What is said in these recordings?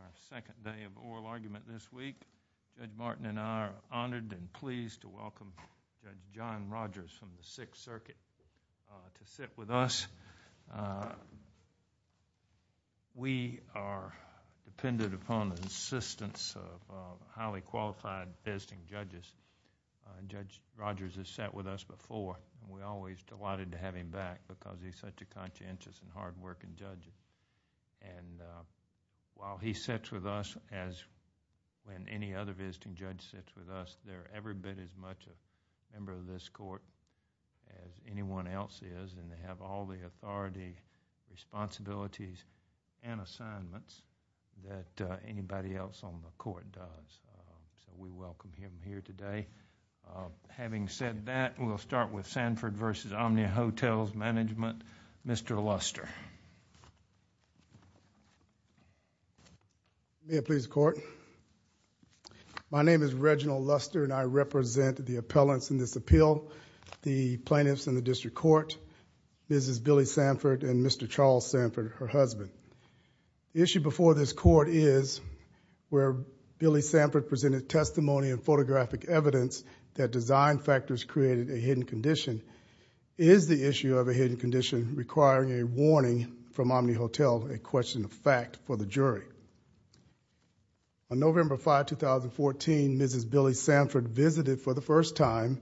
Our second day of oral argument this week. Judge Martin and I are honored and pleased to welcome Judge John Rogers from the Sixth Circuit to sit with us. We are dependent upon the insistence of highly qualified visiting judges. Judge Rogers has sat with us before and we're always delighted to have him back because he's such a conscientious and hard While he sits with us, as when any other visiting judge sits with us, they're every bit as much a member of this court as anyone else is, and they have all the authority, responsibilities and assignments that anybody else on the court does. So we welcome him here today. Having said that, we'll start with Sanford v. Omni Hotels Management. Mr. Luster May it please the court? My name is Reginald Luster and I represent the appellants in this appeal, the plaintiffs in the district court, Mrs. Billie Sanford and Mr. Charles Sanford, her husband. The issue before this court is where Billie Sanford presented testimony and photographic evidence that design factors created a hidden condition. Is the issue of Omni Hotel a question of fact for the jury? On November 5, 2014, Mrs. Billie Sanford visited for the first time,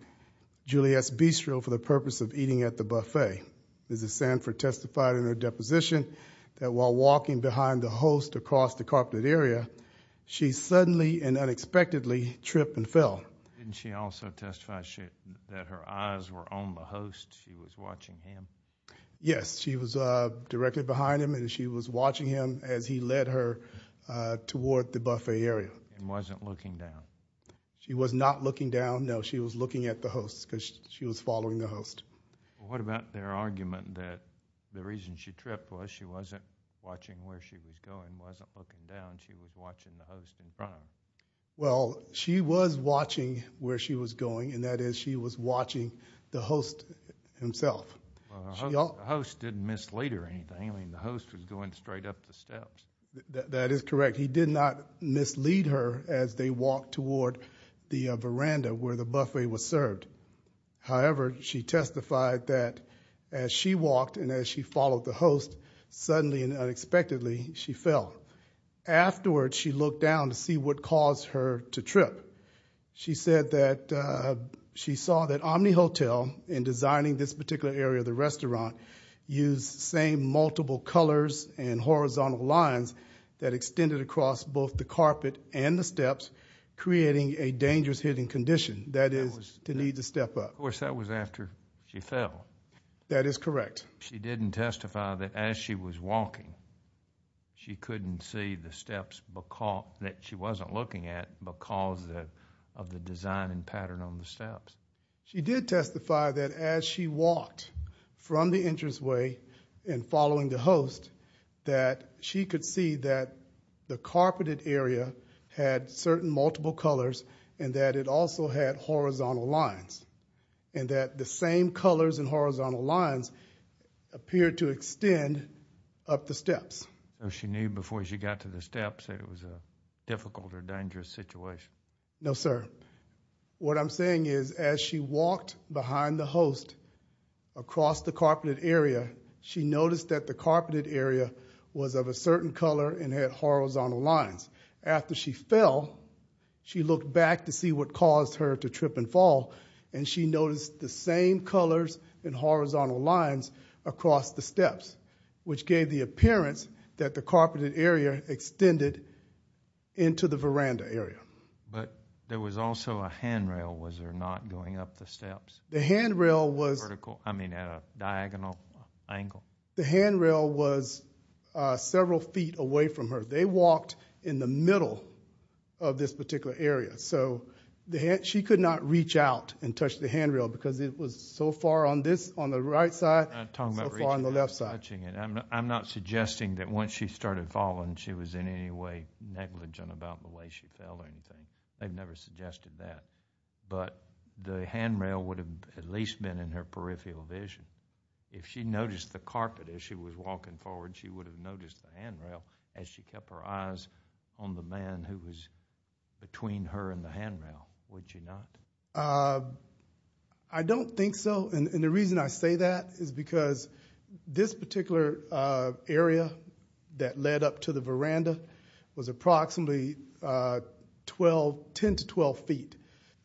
Julius Bistro for the purpose of eating at the buffet. Mrs. Sanford testified in her deposition that while walking behind the host across the carpeted area, she suddenly and unexpectedly tripped and fell. Didn't she also testify that her eyes were on the host, she was watching him? Yes, she was directly behind him and she was watching him as he led her toward the buffet area. And wasn't looking down? She was not looking down, no, she was looking at the host because she was following the host. What about their argument that the reason she tripped was she wasn't watching where she was going, wasn't looking down, she was watching the host in front of her? Well, she was watching where she was going and that is she was watching the host himself. The host didn't mislead her or anything, I mean the host was going straight up the steps. That is correct, he did not mislead her as they walked toward the veranda where the buffet was served. However, she testified that as she walked and as she followed the host, suddenly and unexpectedly she fell. Afterward, she looked down to see what caused her to trip. She said that she saw that Omni Hotel in designing this particular area of the restaurant used the same multiple colors and horizontal lines that extended across both the carpet and the steps creating a dangerous hidden condition, that is to need to step up. Of course, that was after she couldn't see the steps that she wasn't looking at because of the design and pattern on the steps. She did testify that as she walked from the entranceway and following the host that she could see that the carpeted area had certain multiple colors and that it also had horizontal lines and that the same colors and horizontal lines appeared to extend up the steps. So she knew before she got to the steps that it was a difficult or dangerous situation. No sir, what I'm saying is as she walked behind the host across the carpeted area, she noticed that the carpeted area was of a certain color and had horizontal lines. After she fell, she looked back to see what caused her to trip and fall and she noticed the same colors and horizontal lines across the steps which gave the appearance that the carpeted area extended into the veranda area. But there was also a handrail, was there not going up the steps? The handrail was...vertical, I mean at a diagonal angle? The handrail was several feet away from her. They walked in the middle of this particular area so she could not reach out and touch the handrail because it was so far on this, on the right side, so far on the left side. I'm not suggesting that once she started falling, she was in any way negligent about the way she fell or anything. They've never suggested that. But the handrail would have at least been in her peripheral vision. If she noticed the carpet as she was walking forward, she would have noticed the handrail as she kept her eyes on the man who was between her and the handrail, would you not? I don't think so. And the reason I say that is because this particular area that led up to the veranda was approximately 10 to 12 feet.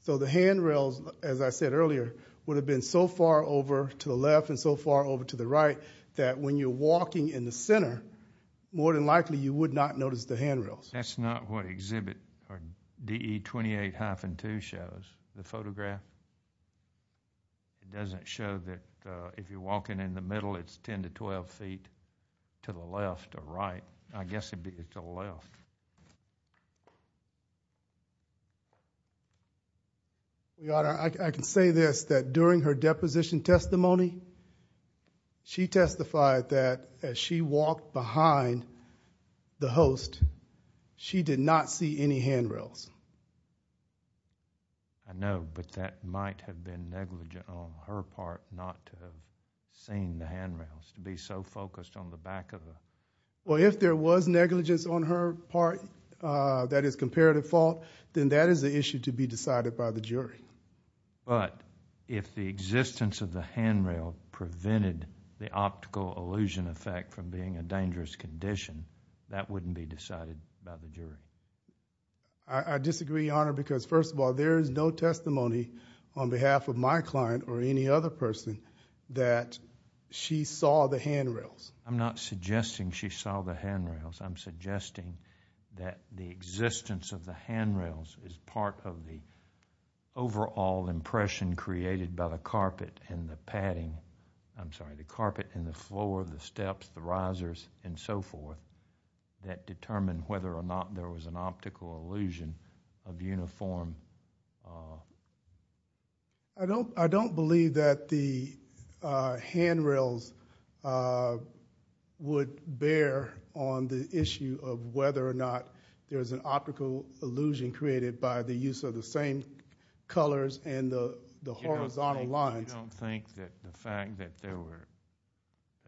So the handrails, as I said earlier, would have been so far over to the left and so far over to the right that when you're walking, you might not notice the handrails. That's not what exhibit DE-28-2 shows, the photograph. It doesn't show that if you're walking in the middle, it's 10 to 12 feet to the left or right. I guess it'd be to the left. Your Honor, I can say this, that during her deposition testimony, she testified that as she walked behind the host, she did not see any handrails. I know, but that might have been negligent on her part not to have seen the handrails, to be so focused on the back of the... If there was negligence on her part, that is comparative fault, then that is an issue to be decided by the jury. But if the existence of the handrail prevented the optical illusion effect from being a dangerous condition, that wouldn't be decided by the jury. I disagree, Your Honor, because first of all, there is no testimony on behalf of my client or any other person that she saw the handrails. I'm not suggesting she saw the handrails. I'm suggesting that the existence of the handrails is part of the overall impression created by the carpet and the padding... I'm sorry, the carpet and the floor, the steps, the risers, and so forth, that determined whether or not there was an optical illusion of uniform... I don't believe that the handrails would bear on the issue of whether or not there was an optical illusion created by the use of the same colors and the horizontal lines... You don't think that the fact that there were...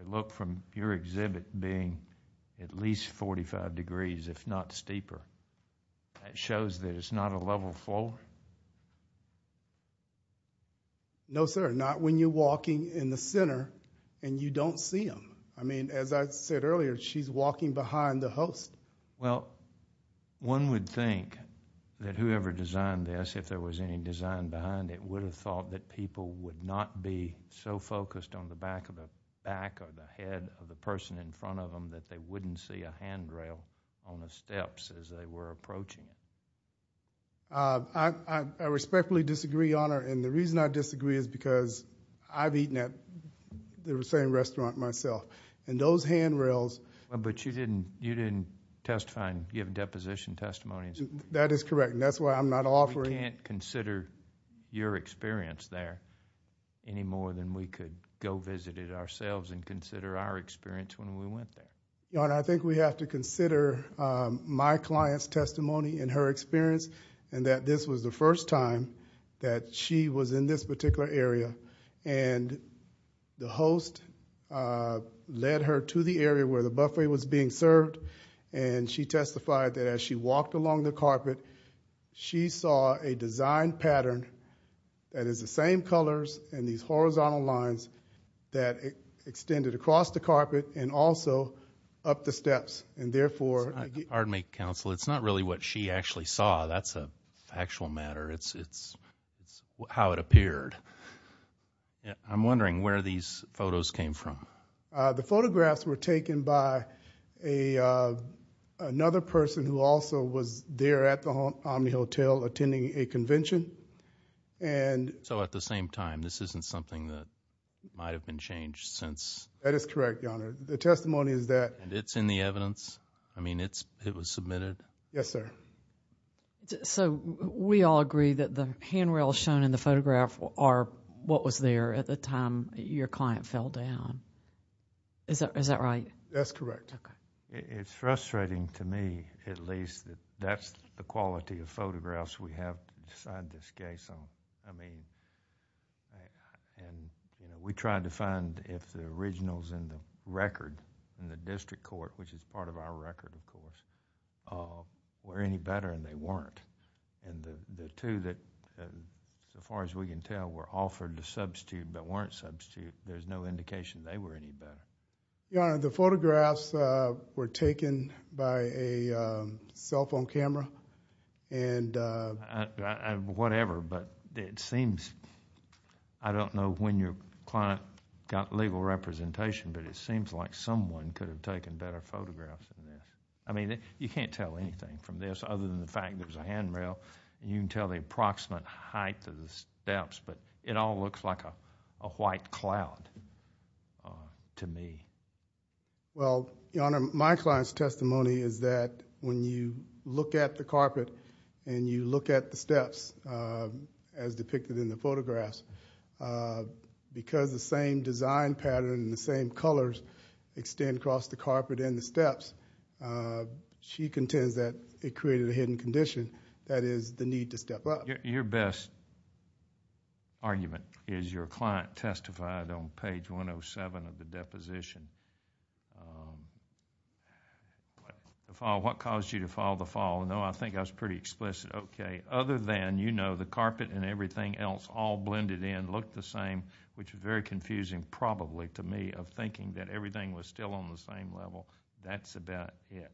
look from your exhibit being at least forty-five degrees, if not steeper, that shows that it's not a level floor? No sir, not when you're walking in the center and you don't see them. I mean, as I said earlier, she's walking behind the host. Well, one would think that whoever designed this, if there was any design behind it, would have thought that people would not be so focused on the back of the back or the head of the person in front of them that they wouldn't see a handrail on the steps as they were approaching it. I respectfully disagree, Honor, and the reason I disagree is because I've eaten at the same But you didn't testify and give a deposition testimony? That is correct, and that's why I'm not offering... We can't consider your experience there any more than we could go visit it ourselves and consider our experience when we went there. Honor, I think we have to consider my client's testimony and her experience, and that this was the first time that she was in this particular area, and the host led her to the area where the buffet was being served, and she testified that as she walked along the carpet, she saw a design pattern that is the same colors and these horizontal lines that extended across the carpet and also up the steps, and therefore... Pardon me, Counsel. It's not really what she actually saw. That's a factual matter. It's how it appeared. I'm wondering where these photos came from. The photographs were taken by another person who also was there at the Omni Hotel attending a convention, and... So at the same time, this isn't something that might have been changed since... That is correct, Your Honor. The testimony is that... And it's in the evidence? I mean, it was submitted? Yes, sir. So we all agree that the handrails shown in the photograph are what was there at the time your client fell down. Is that right? That's correct. It's frustrating to me, at least, that that's the quality of photographs we have to decide this case on. We tried to find if the originals in the record in the district court, which is part of our record, of course, were any better, and they weren't. The two that, so far, I've asked you, there's no indication they were any better. Your Honor, the photographs were taken by a cell phone camera, and... Whatever, but it seems... I don't know when your client got legal representation, but it seems like someone could have taken better photographs than this. I mean, you can't tell anything from this other than the fact there's a handrail. You can tell the cloud to me. Well, Your Honor, my client's testimony is that when you look at the carpet and you look at the steps as depicted in the photographs, because the same design pattern and the same colors extend across the carpet and the steps, she contends that it created a hidden condition, that is, the need to step up. Your best argument is your client testified on page 107 of the deposition, what caused you to file the file. No, I think I was pretty explicit. Okay. Other than, you know, the carpet and everything else all blended in, looked the same, which is very confusing probably to me of thinking that everything was still on the same level. That's about it.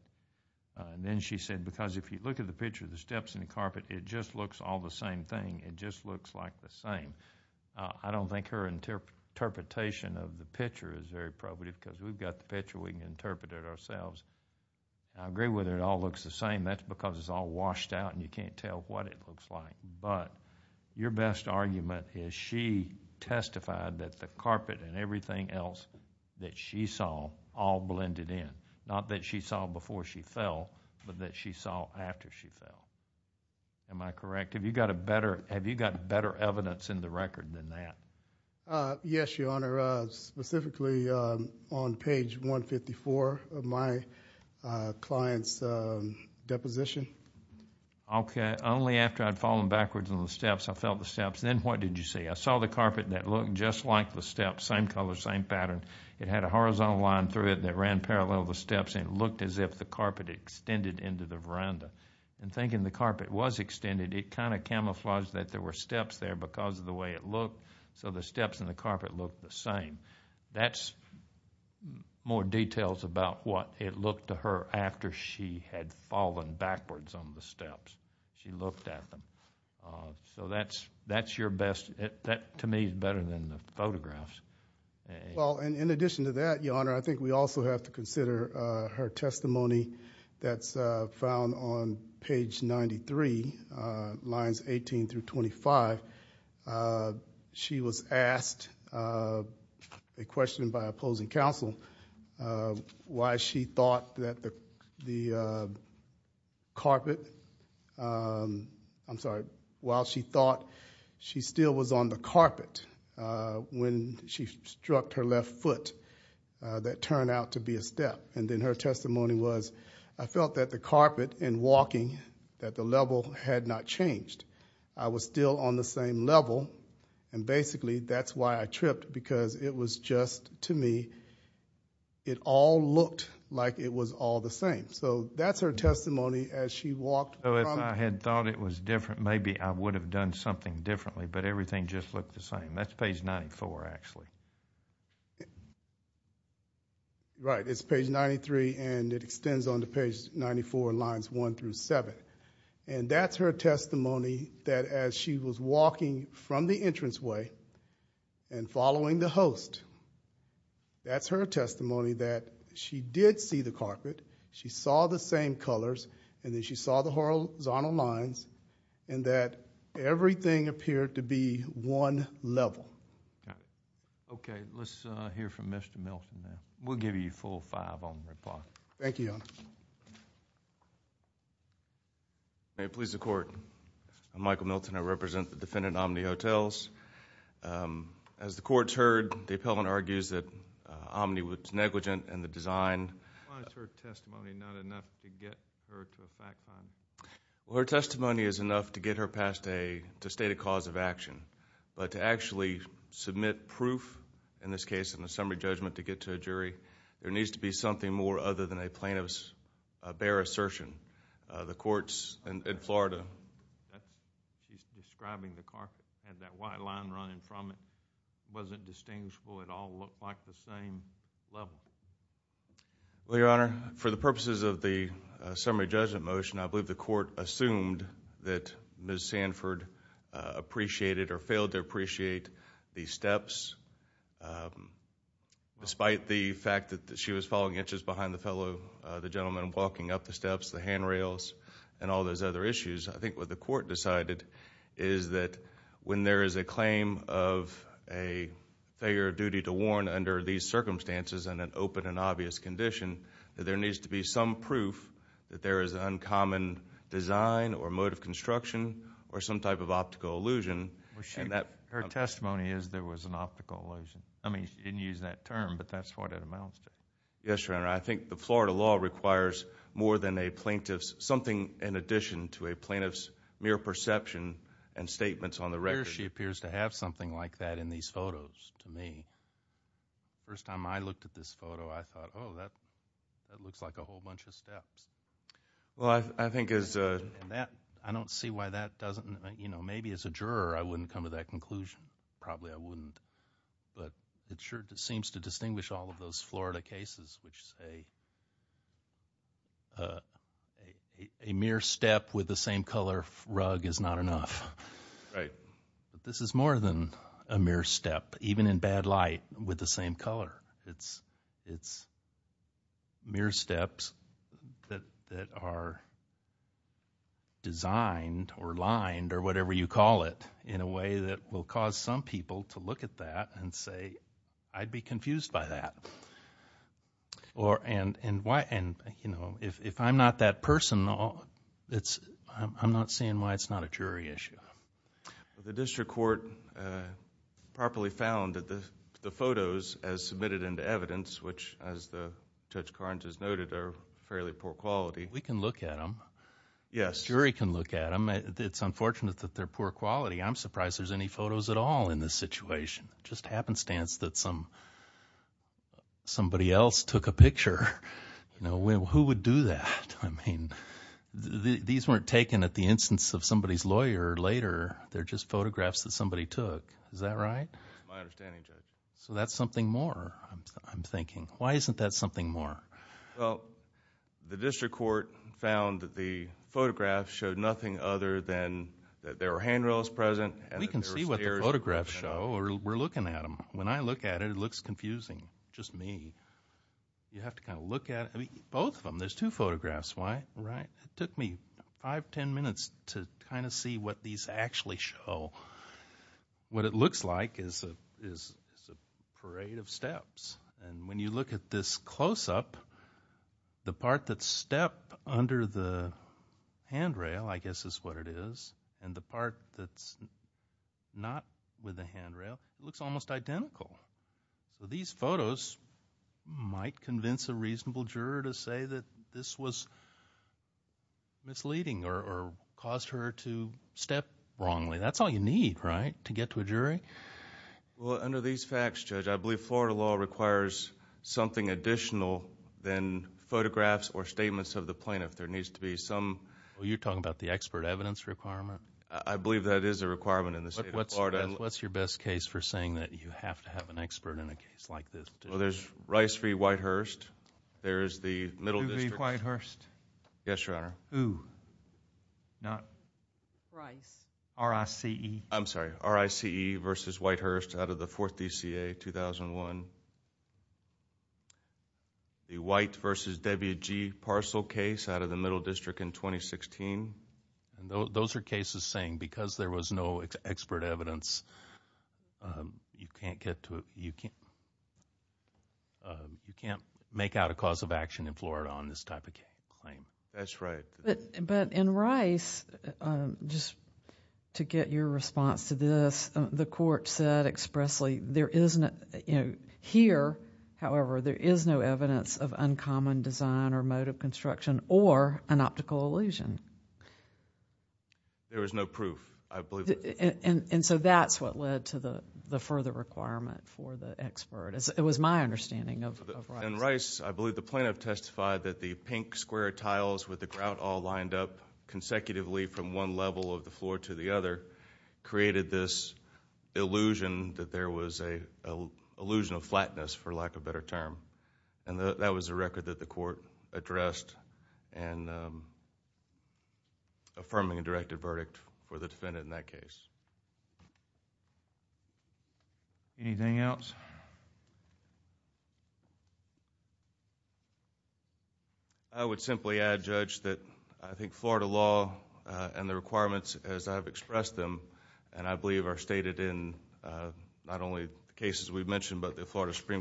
Then she said because if you look at the picture of the steps and the carpet, it just looks all the same thing. It just looks like the same. I don't think her interpretation of the picture is very probative because we've got the picture. We can interpret it ourselves. I agree with her it all looks the same. That's because it's all washed out and you can't tell what it looks like. But your best argument is she testified that the carpet and everything else that she saw all blended in. Not that she saw before she fell, but that she saw after she fell. Am I correct? Have you got better evidence in the record than that? Yes, Your Honor. Specifically on page 154 of my client's deposition. Okay. Only after I'd fallen backwards on the steps, I felt the steps. Then what did you see? I saw the carpet that looked just like the steps. Same color, same pattern. It had a horizontal line through it that ran parallel to the steps and it looked as if the carpet extended into the veranda. Thinking the carpet was extended, it kind of camouflaged that there were steps there because of the way it looked. So the steps and the carpet looked the same. That's more details about what it looked to her after she had fallen backwards on the steps. She looked at them. So that to me is better than the photographs. Well, in addition to that, Your Honor, I think we also have to consider her testimony that's found on page 93, lines 18 through 25. She was asked a question by opposing counsel why she thought that the carpet, I'm sorry, the carpet, while she thought she still was on the carpet when she struck her left foot, that turned out to be a step. Then her testimony was, I felt that the carpet in walking, that the level had not changed. I was still on the same level and basically that's why I tripped because it was just to me, it all looked like it was all the same. So that's her testimony as she walked. So if I had thought it was different, maybe I would have done something differently, but everything just looked the same. That's page 94 actually. Right, it's page 93 and it extends on to page 94, lines 1 through 7. That's her testimony that as she was walking from the entranceway and following the host, that's her testimony that she did see the carpet, she saw the same colors and then she saw the horizontal lines and that everything appeared to be one level. Okay, let's hear from Mr. Milton now. We'll give you a full five on the report. Thank you, Your Honor. May it please the Court, I'm Michael Milton. I represent the defendant, Omni Hotels. As the Court's heard, the appellant argues that Omni was negligent in the design. Why is her testimony not enough to get her to a fact find? Her testimony is enough to get her past a state of cause of action, but to actually submit proof, in this case, in a summary judgment to get to a jury, there needs to be something more other than a plaintiff's bare assertion. The Court's in Florida. She's describing the carpet. Had that white line running from it. It wasn't distinguishable. It all looked like the same level. Well, Your Honor, for the purposes of the summary judgment motion, I believe the Court assumed that Ms. Sanford appreciated or failed to appreciate the steps. Despite the fact that she was following inches behind the gentleman walking up the steps, the handrails, and all those other issues, I think what the Court decided is that when there is a claim of a failure of duty to warn under these circumstances in an open and obvious condition, that there needs to be some proof that there is an uncommon design or mode of construction or some type of optical illusion. Her testimony is there was an optical illusion. I mean, she didn't use that term, but that's what it amounts to. Yes, Your Honor. I think the Florida law requires more than a plaintiff's, something in addition to a plaintiff's mere perception and statements on the record. She appears to have something like that in these photos to me. First time I looked at this photo, I thought, oh, that looks like a whole bunch of steps. Well, I think as a... I don't see why that doesn't... you know, maybe as a juror, I wouldn't come to that conclusion. Probably I wouldn't. But it sure seems to distinguish all of those Florida cases which say a mere step with the same color rug is not enough. Right. But this is more than a mere step, even in bad light, with the same color. It's mere steps that are designed or lined or whatever you call it, in a way that will cause some people to look at that and say, I'd be confused by that. If I'm not that person, I'm not seeing why it's not a jury issue. The district court properly found that the photos, as submitted into evidence, which as Judge Carnes has noted, are fairly poor quality. We can look at them. Yes. Jury can look at them. It's unfortunate that they're poor quality. I'm surprised there's any photos at all in this situation. Just happenstance that somebody else took a picture. Who would do that? I mean, these weren't taken at the instance of somebody's lawyer later. They're just photographs that somebody took. Is that right? That's my understanding, Judge. So that's something more, I'm thinking. Why isn't that something more? Well, the district court found that the photographs showed nothing other than that there were handrails present. We can see what the photographs show. We're looking at them. When I look at it, it looks confusing. Just me. You have to kind of look at it. Both of them. There's two photographs. Why? Right. It took me five, ten minutes to kind of see what these actually show. What it looks like is a parade of steps. And when you look at this close-up, the part that's stepped under the handrail, I guess is what it is, and the part that's not with the handrail, it looks almost identical. So these photos might convince a reasonable juror to say that this was misleading or caused her to step wrongly. That's all you need, right, to get to a jury? Well, under these facts, Judge, I believe Florida law requires something additional than photographs or statements of the plaintiff. There needs to be some Well, you're talking about the expert evidence requirement? I believe that is a requirement in the state of Florida. What's your best case for saying that you have to have an expert in a case like this? Well, there's Rice v. Whitehurst. There's the Middle District Uve Whitehurst. Yes, Your Honor. Who? Not Rice. R-I-C-E. I'm sorry. R-I-C-E v. Whitehurst out of the 4th DCA, 2001. The White v. Debbie G. Parcel case out of the Middle District in 2016. Those are cases saying because there was no expert evidence, you can't make out a cause of action in Florida on this type of claim. That's right. But in Rice, just to get your response to this, the court said expressly, here, however, there is no evidence of uncommon design or mode of construction or an optical illusion. There was no proof, I believe. And so that's what led to the further requirement for the expert. It was my understanding of Rice. In Rice, I believe the plaintiff testified that the pink square tiles with the grout all lined up consecutively from one level of the floor to the other created this illusion that there was an illusion of flatness, for lack of a better term. And that was a record that the court addressed in affirming a directed verdict for the defendant in that case. Anything else? I would simply add, Judge, that I think Florida law and the requirements as I've expressed them, and I believe are stated in not only the cases we've mentioned, but the Florida under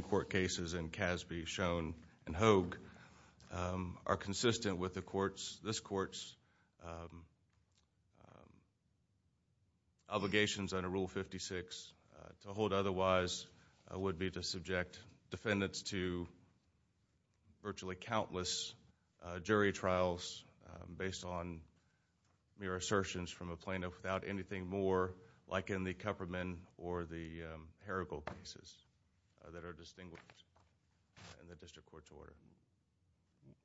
Rule 56. To hold otherwise would be to subject defendants to virtually countless jury trials based on mere assertions from a plaintiff without anything more, like in the Kupferman or the Herigold cases that are distinguished in the district court's order.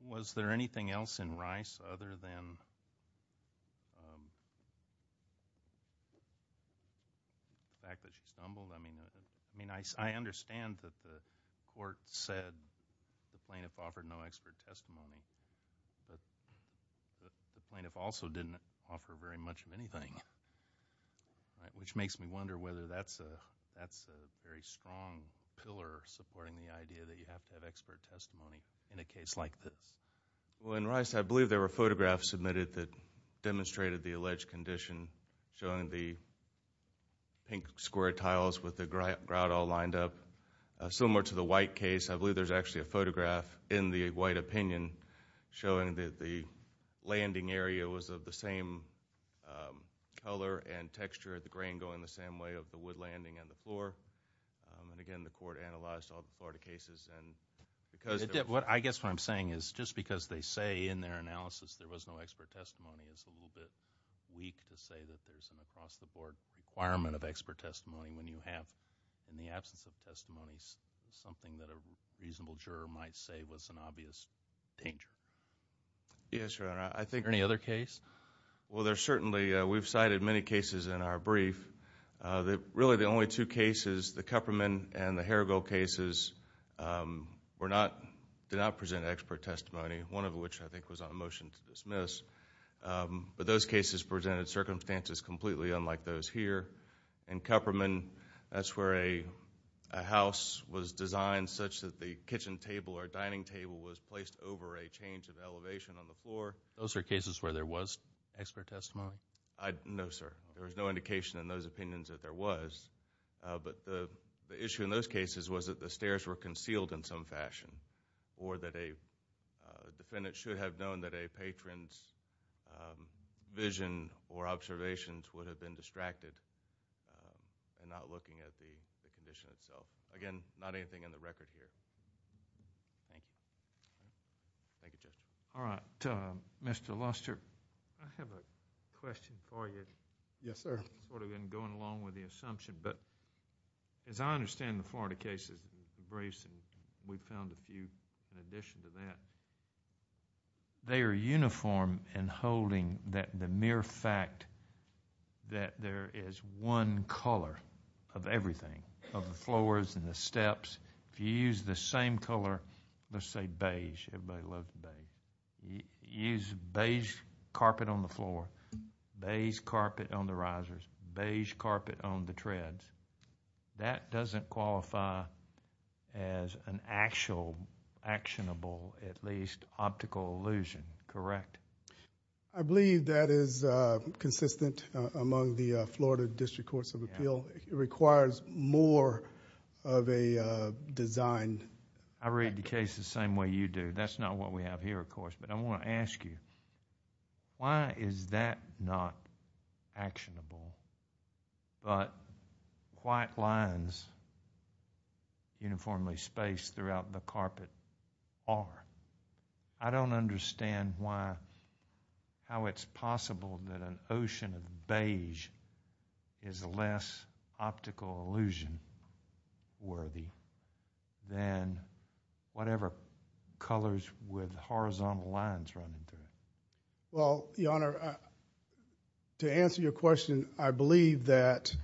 Was there anything else in Rice other than the fact that she stumbled? I mean, I understand that the court said the plaintiff offered no expert testimony, but the plaintiff also didn't offer very much of anything, which makes me wonder whether that's a very strong pillar supporting the idea that you have to have expert testimony in a case like this. Well, in Rice, I believe there were photographs submitted that demonstrated the alleged condition, showing the pink square tiles with the grout all lined up. Similar to the White case, I believe there's actually a photograph in the White opinion showing that the landing area was of the same color and texture, the grain going the same way of the wood landing and the floor. And again, the court analyzed all the Florida cases. I guess what I'm saying is, just because they say in their analysis there was no expert testimony, it's a little bit weak to say that there's an across-the-board requirement of expert testimony when you have, in the absence of testimony, something that a reasonable juror might say was an obvious danger. Yes, Your Honor, I think... Any other case? Well, there's certainly... We've cited many cases in our brief. Really, the only two cases, the Kupperman and the Herrigel cases, did not present expert testimony, one of which I think was on a motion to dismiss. But those cases presented circumstances completely unlike those here. In Kupperman, that's where a house was designed such that the kitchen table or dining table was placed over a change of elevation on the floor. Those are cases where there was expert testimony? No, sir. There was no indication in those opinions that there was. But the issue in those cases was that the stairs were concealed in some fashion, or that a defendant should have known that a patron's vision or observations would have been distracted in not looking at the condition itself. Again, not anything in the record here. Thank you. Thank you, Judge. All right. Mr. Luster, I have a question for you. Yes, sir. Sort of going along with the assumption, but as I understand the Florida cases, the Brace and we found a few in addition to that, they are uniform in holding that the mere fact that there is one color of everything, of the floors and the steps. If you use the same color, let's say beige, everybody loves beige, use beige carpet on the floor, beige carpet on the risers, beige carpet on the treads, that doesn't qualify as an actual actionable, at least, optical illusion, correct? I believe that is consistent among the Florida District Courts of Appeal. It requires more of a design. I read the case the same way you do. That's not what we have here, of course. I want to ask you, why is that not actionable, but white lines uniformly spaced throughout the carpet are? I don't understand how it's possible that an ocean of beige is less optical illusion worthy than whatever colors with horizontal lines running through it. Well, Your Honor, to answer your question, I believe that,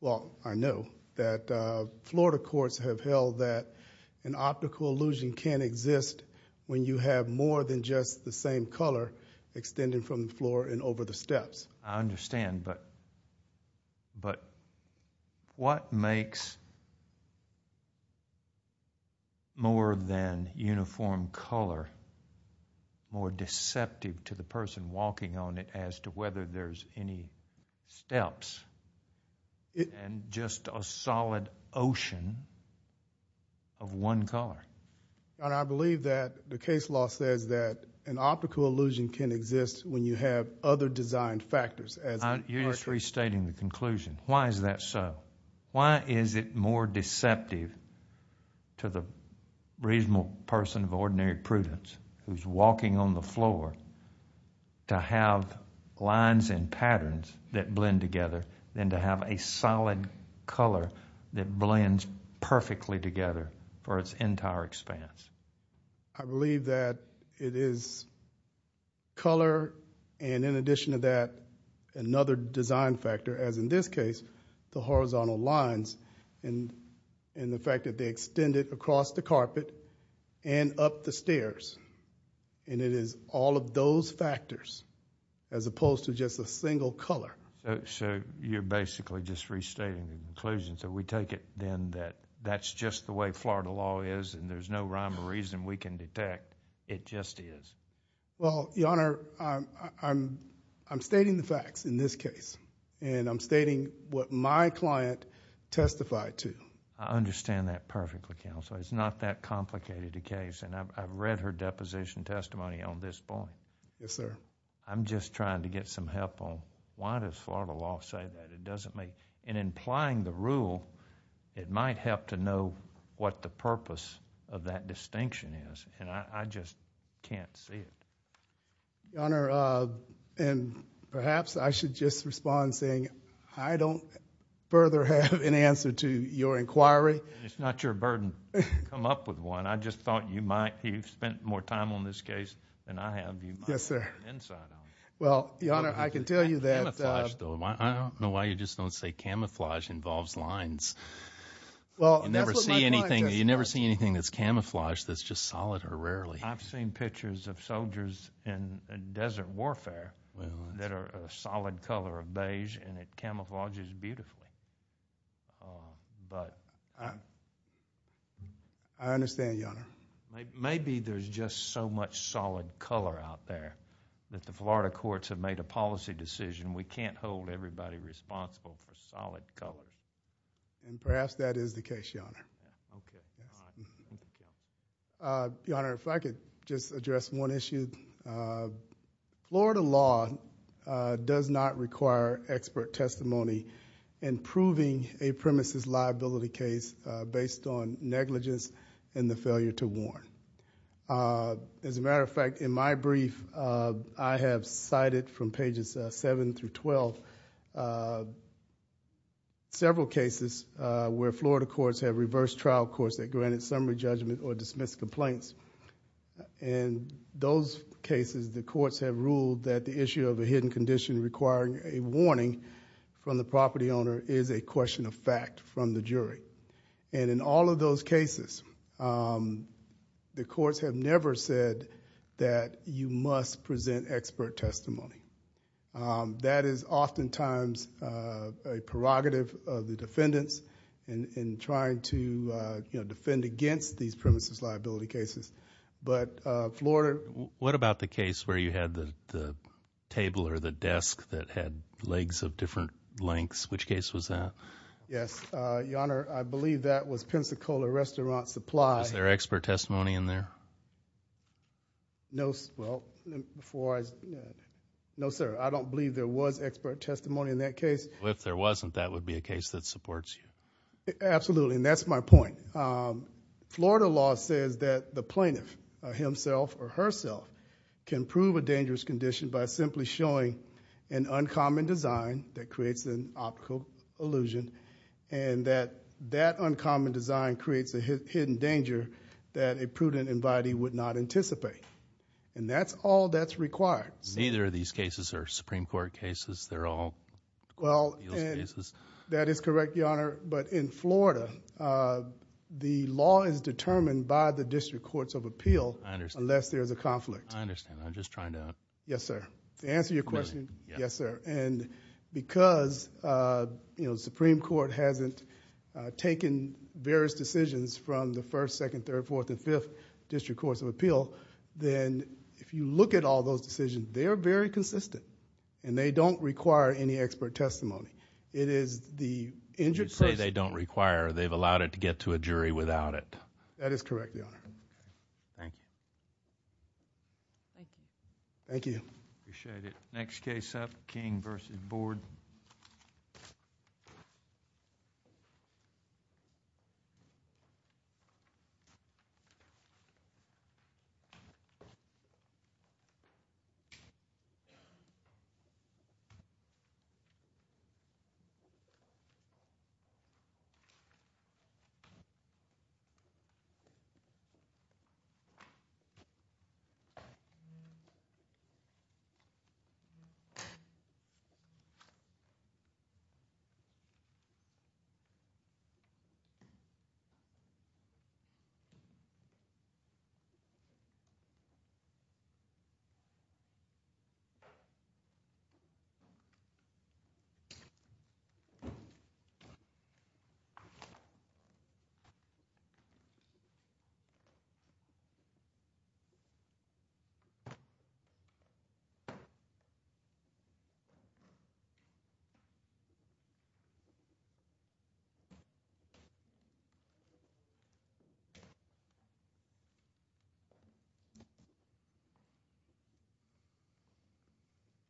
well, I know that Florida courts have held that an optical illusion can't exist when you have more than just the same color extending from the floor and over the steps. I understand, but what makes more than uniform color more deceptive to the person walking on it as to whether there's any steps and just a solid ocean of one color? Your Honor, I believe that the case law says that an optical illusion can exist when you have other design factors as the carpet. You're just restating the conclusion. Why is that so? Why is it more deceptive to the reasonable person of ordinary prudence who's walking on the floor to have lines and patterns that blend together than to have a solid color that blends perfectly together for its entire expanse? I believe that it is color and, in addition to that, another design factor, as in this case, the horizontal lines and the fact that they extend it across the carpet and up the stairs. It is all of those factors as opposed to just a single color. You're basically just restating the conclusion. We take it then that that's just the way Florida law is and there's no rhyme or reason we can detect. It just is. Your Honor, I'm stating the facts in this case and I'm stating what my client testified to. I understand that perfectly, Counselor. It's not that complicated a case. I've read her deposition testimony on this point. Yes, sir. I'm just trying to get some help on why does Florida law say that. In implying the rule, it might help to know what the purpose of that distinction is. I just can't see it. Your Honor, perhaps I should just respond saying I don't further have an answer to your inquiry. It's not your burden to come up with one. I just thought you might. You've spent more time on this case than I have. You might have an insight on it. Well, Your Honor, I can tell you that... You never see anything that's camouflaged that's just solid or rarely. I've seen pictures of soldiers in desert warfare that are a solid color of beige and it camouflages I understand, Your Honor. Maybe there's just so much solid color out there that the Florida courts have made a policy decision we can't hold everybody responsible for solid colors. Perhaps that is the case, Your Honor. Your Honor, if I could just address one issue. Florida law does not require expert testimony in proving a premise's liability case based on negligence and the failure to warn. As I mentioned in cases seven through twelve, several cases where Florida courts have reversed trial courts that granted summary judgment or dismissed complaints. In those cases, the courts have ruled that the issue of a hidden condition requiring a warning from the property owner is a question of fact from the jury. In all of those cases, the courts have never said that you must present expert testimony. That is oftentimes a prerogative of the defendants in trying to defend against these premises liability cases. But Florida... What about the case where you had the table or the desk that had legs of different lengths? Which case was that? Yes, Your Honor. I believe that was Pensacola Restaurant Supply... No, sir. I don't believe there was expert testimony in that case. If there wasn't, that would be a case that supports you. Absolutely, and that's my point. Florida law says that the plaintiff himself or herself can prove a dangerous condition by simply showing an uncommon design that creates an optical illusion and that that uncommon design creates a hidden danger that a prudent invitee would not anticipate. And that's all that's required. Neither of these cases are Supreme Court cases. They're all appeals cases. That is correct, Your Honor. But in Florida, the law is determined by the District Courts of Appeal... I understand.... unless there's a conflict. I understand. I'm just trying to... Yes, sir. To answer your question... Really? Yes, sir. And because the Supreme Court hasn't taken various decisions from the first, second, third, fourth, and fifth District Courts of Appeal, then if you look at all those decisions, they're very consistent and they don't require any expert testimony. It is the injured person... You say they don't require. They've allowed it to get to a jury without it. That is correct, Your Honor. Thank you. Thank you. Thank you. Appreciate it. Next case up, King v. Board. Thank you, Your Honor. Thank you, Your Honor.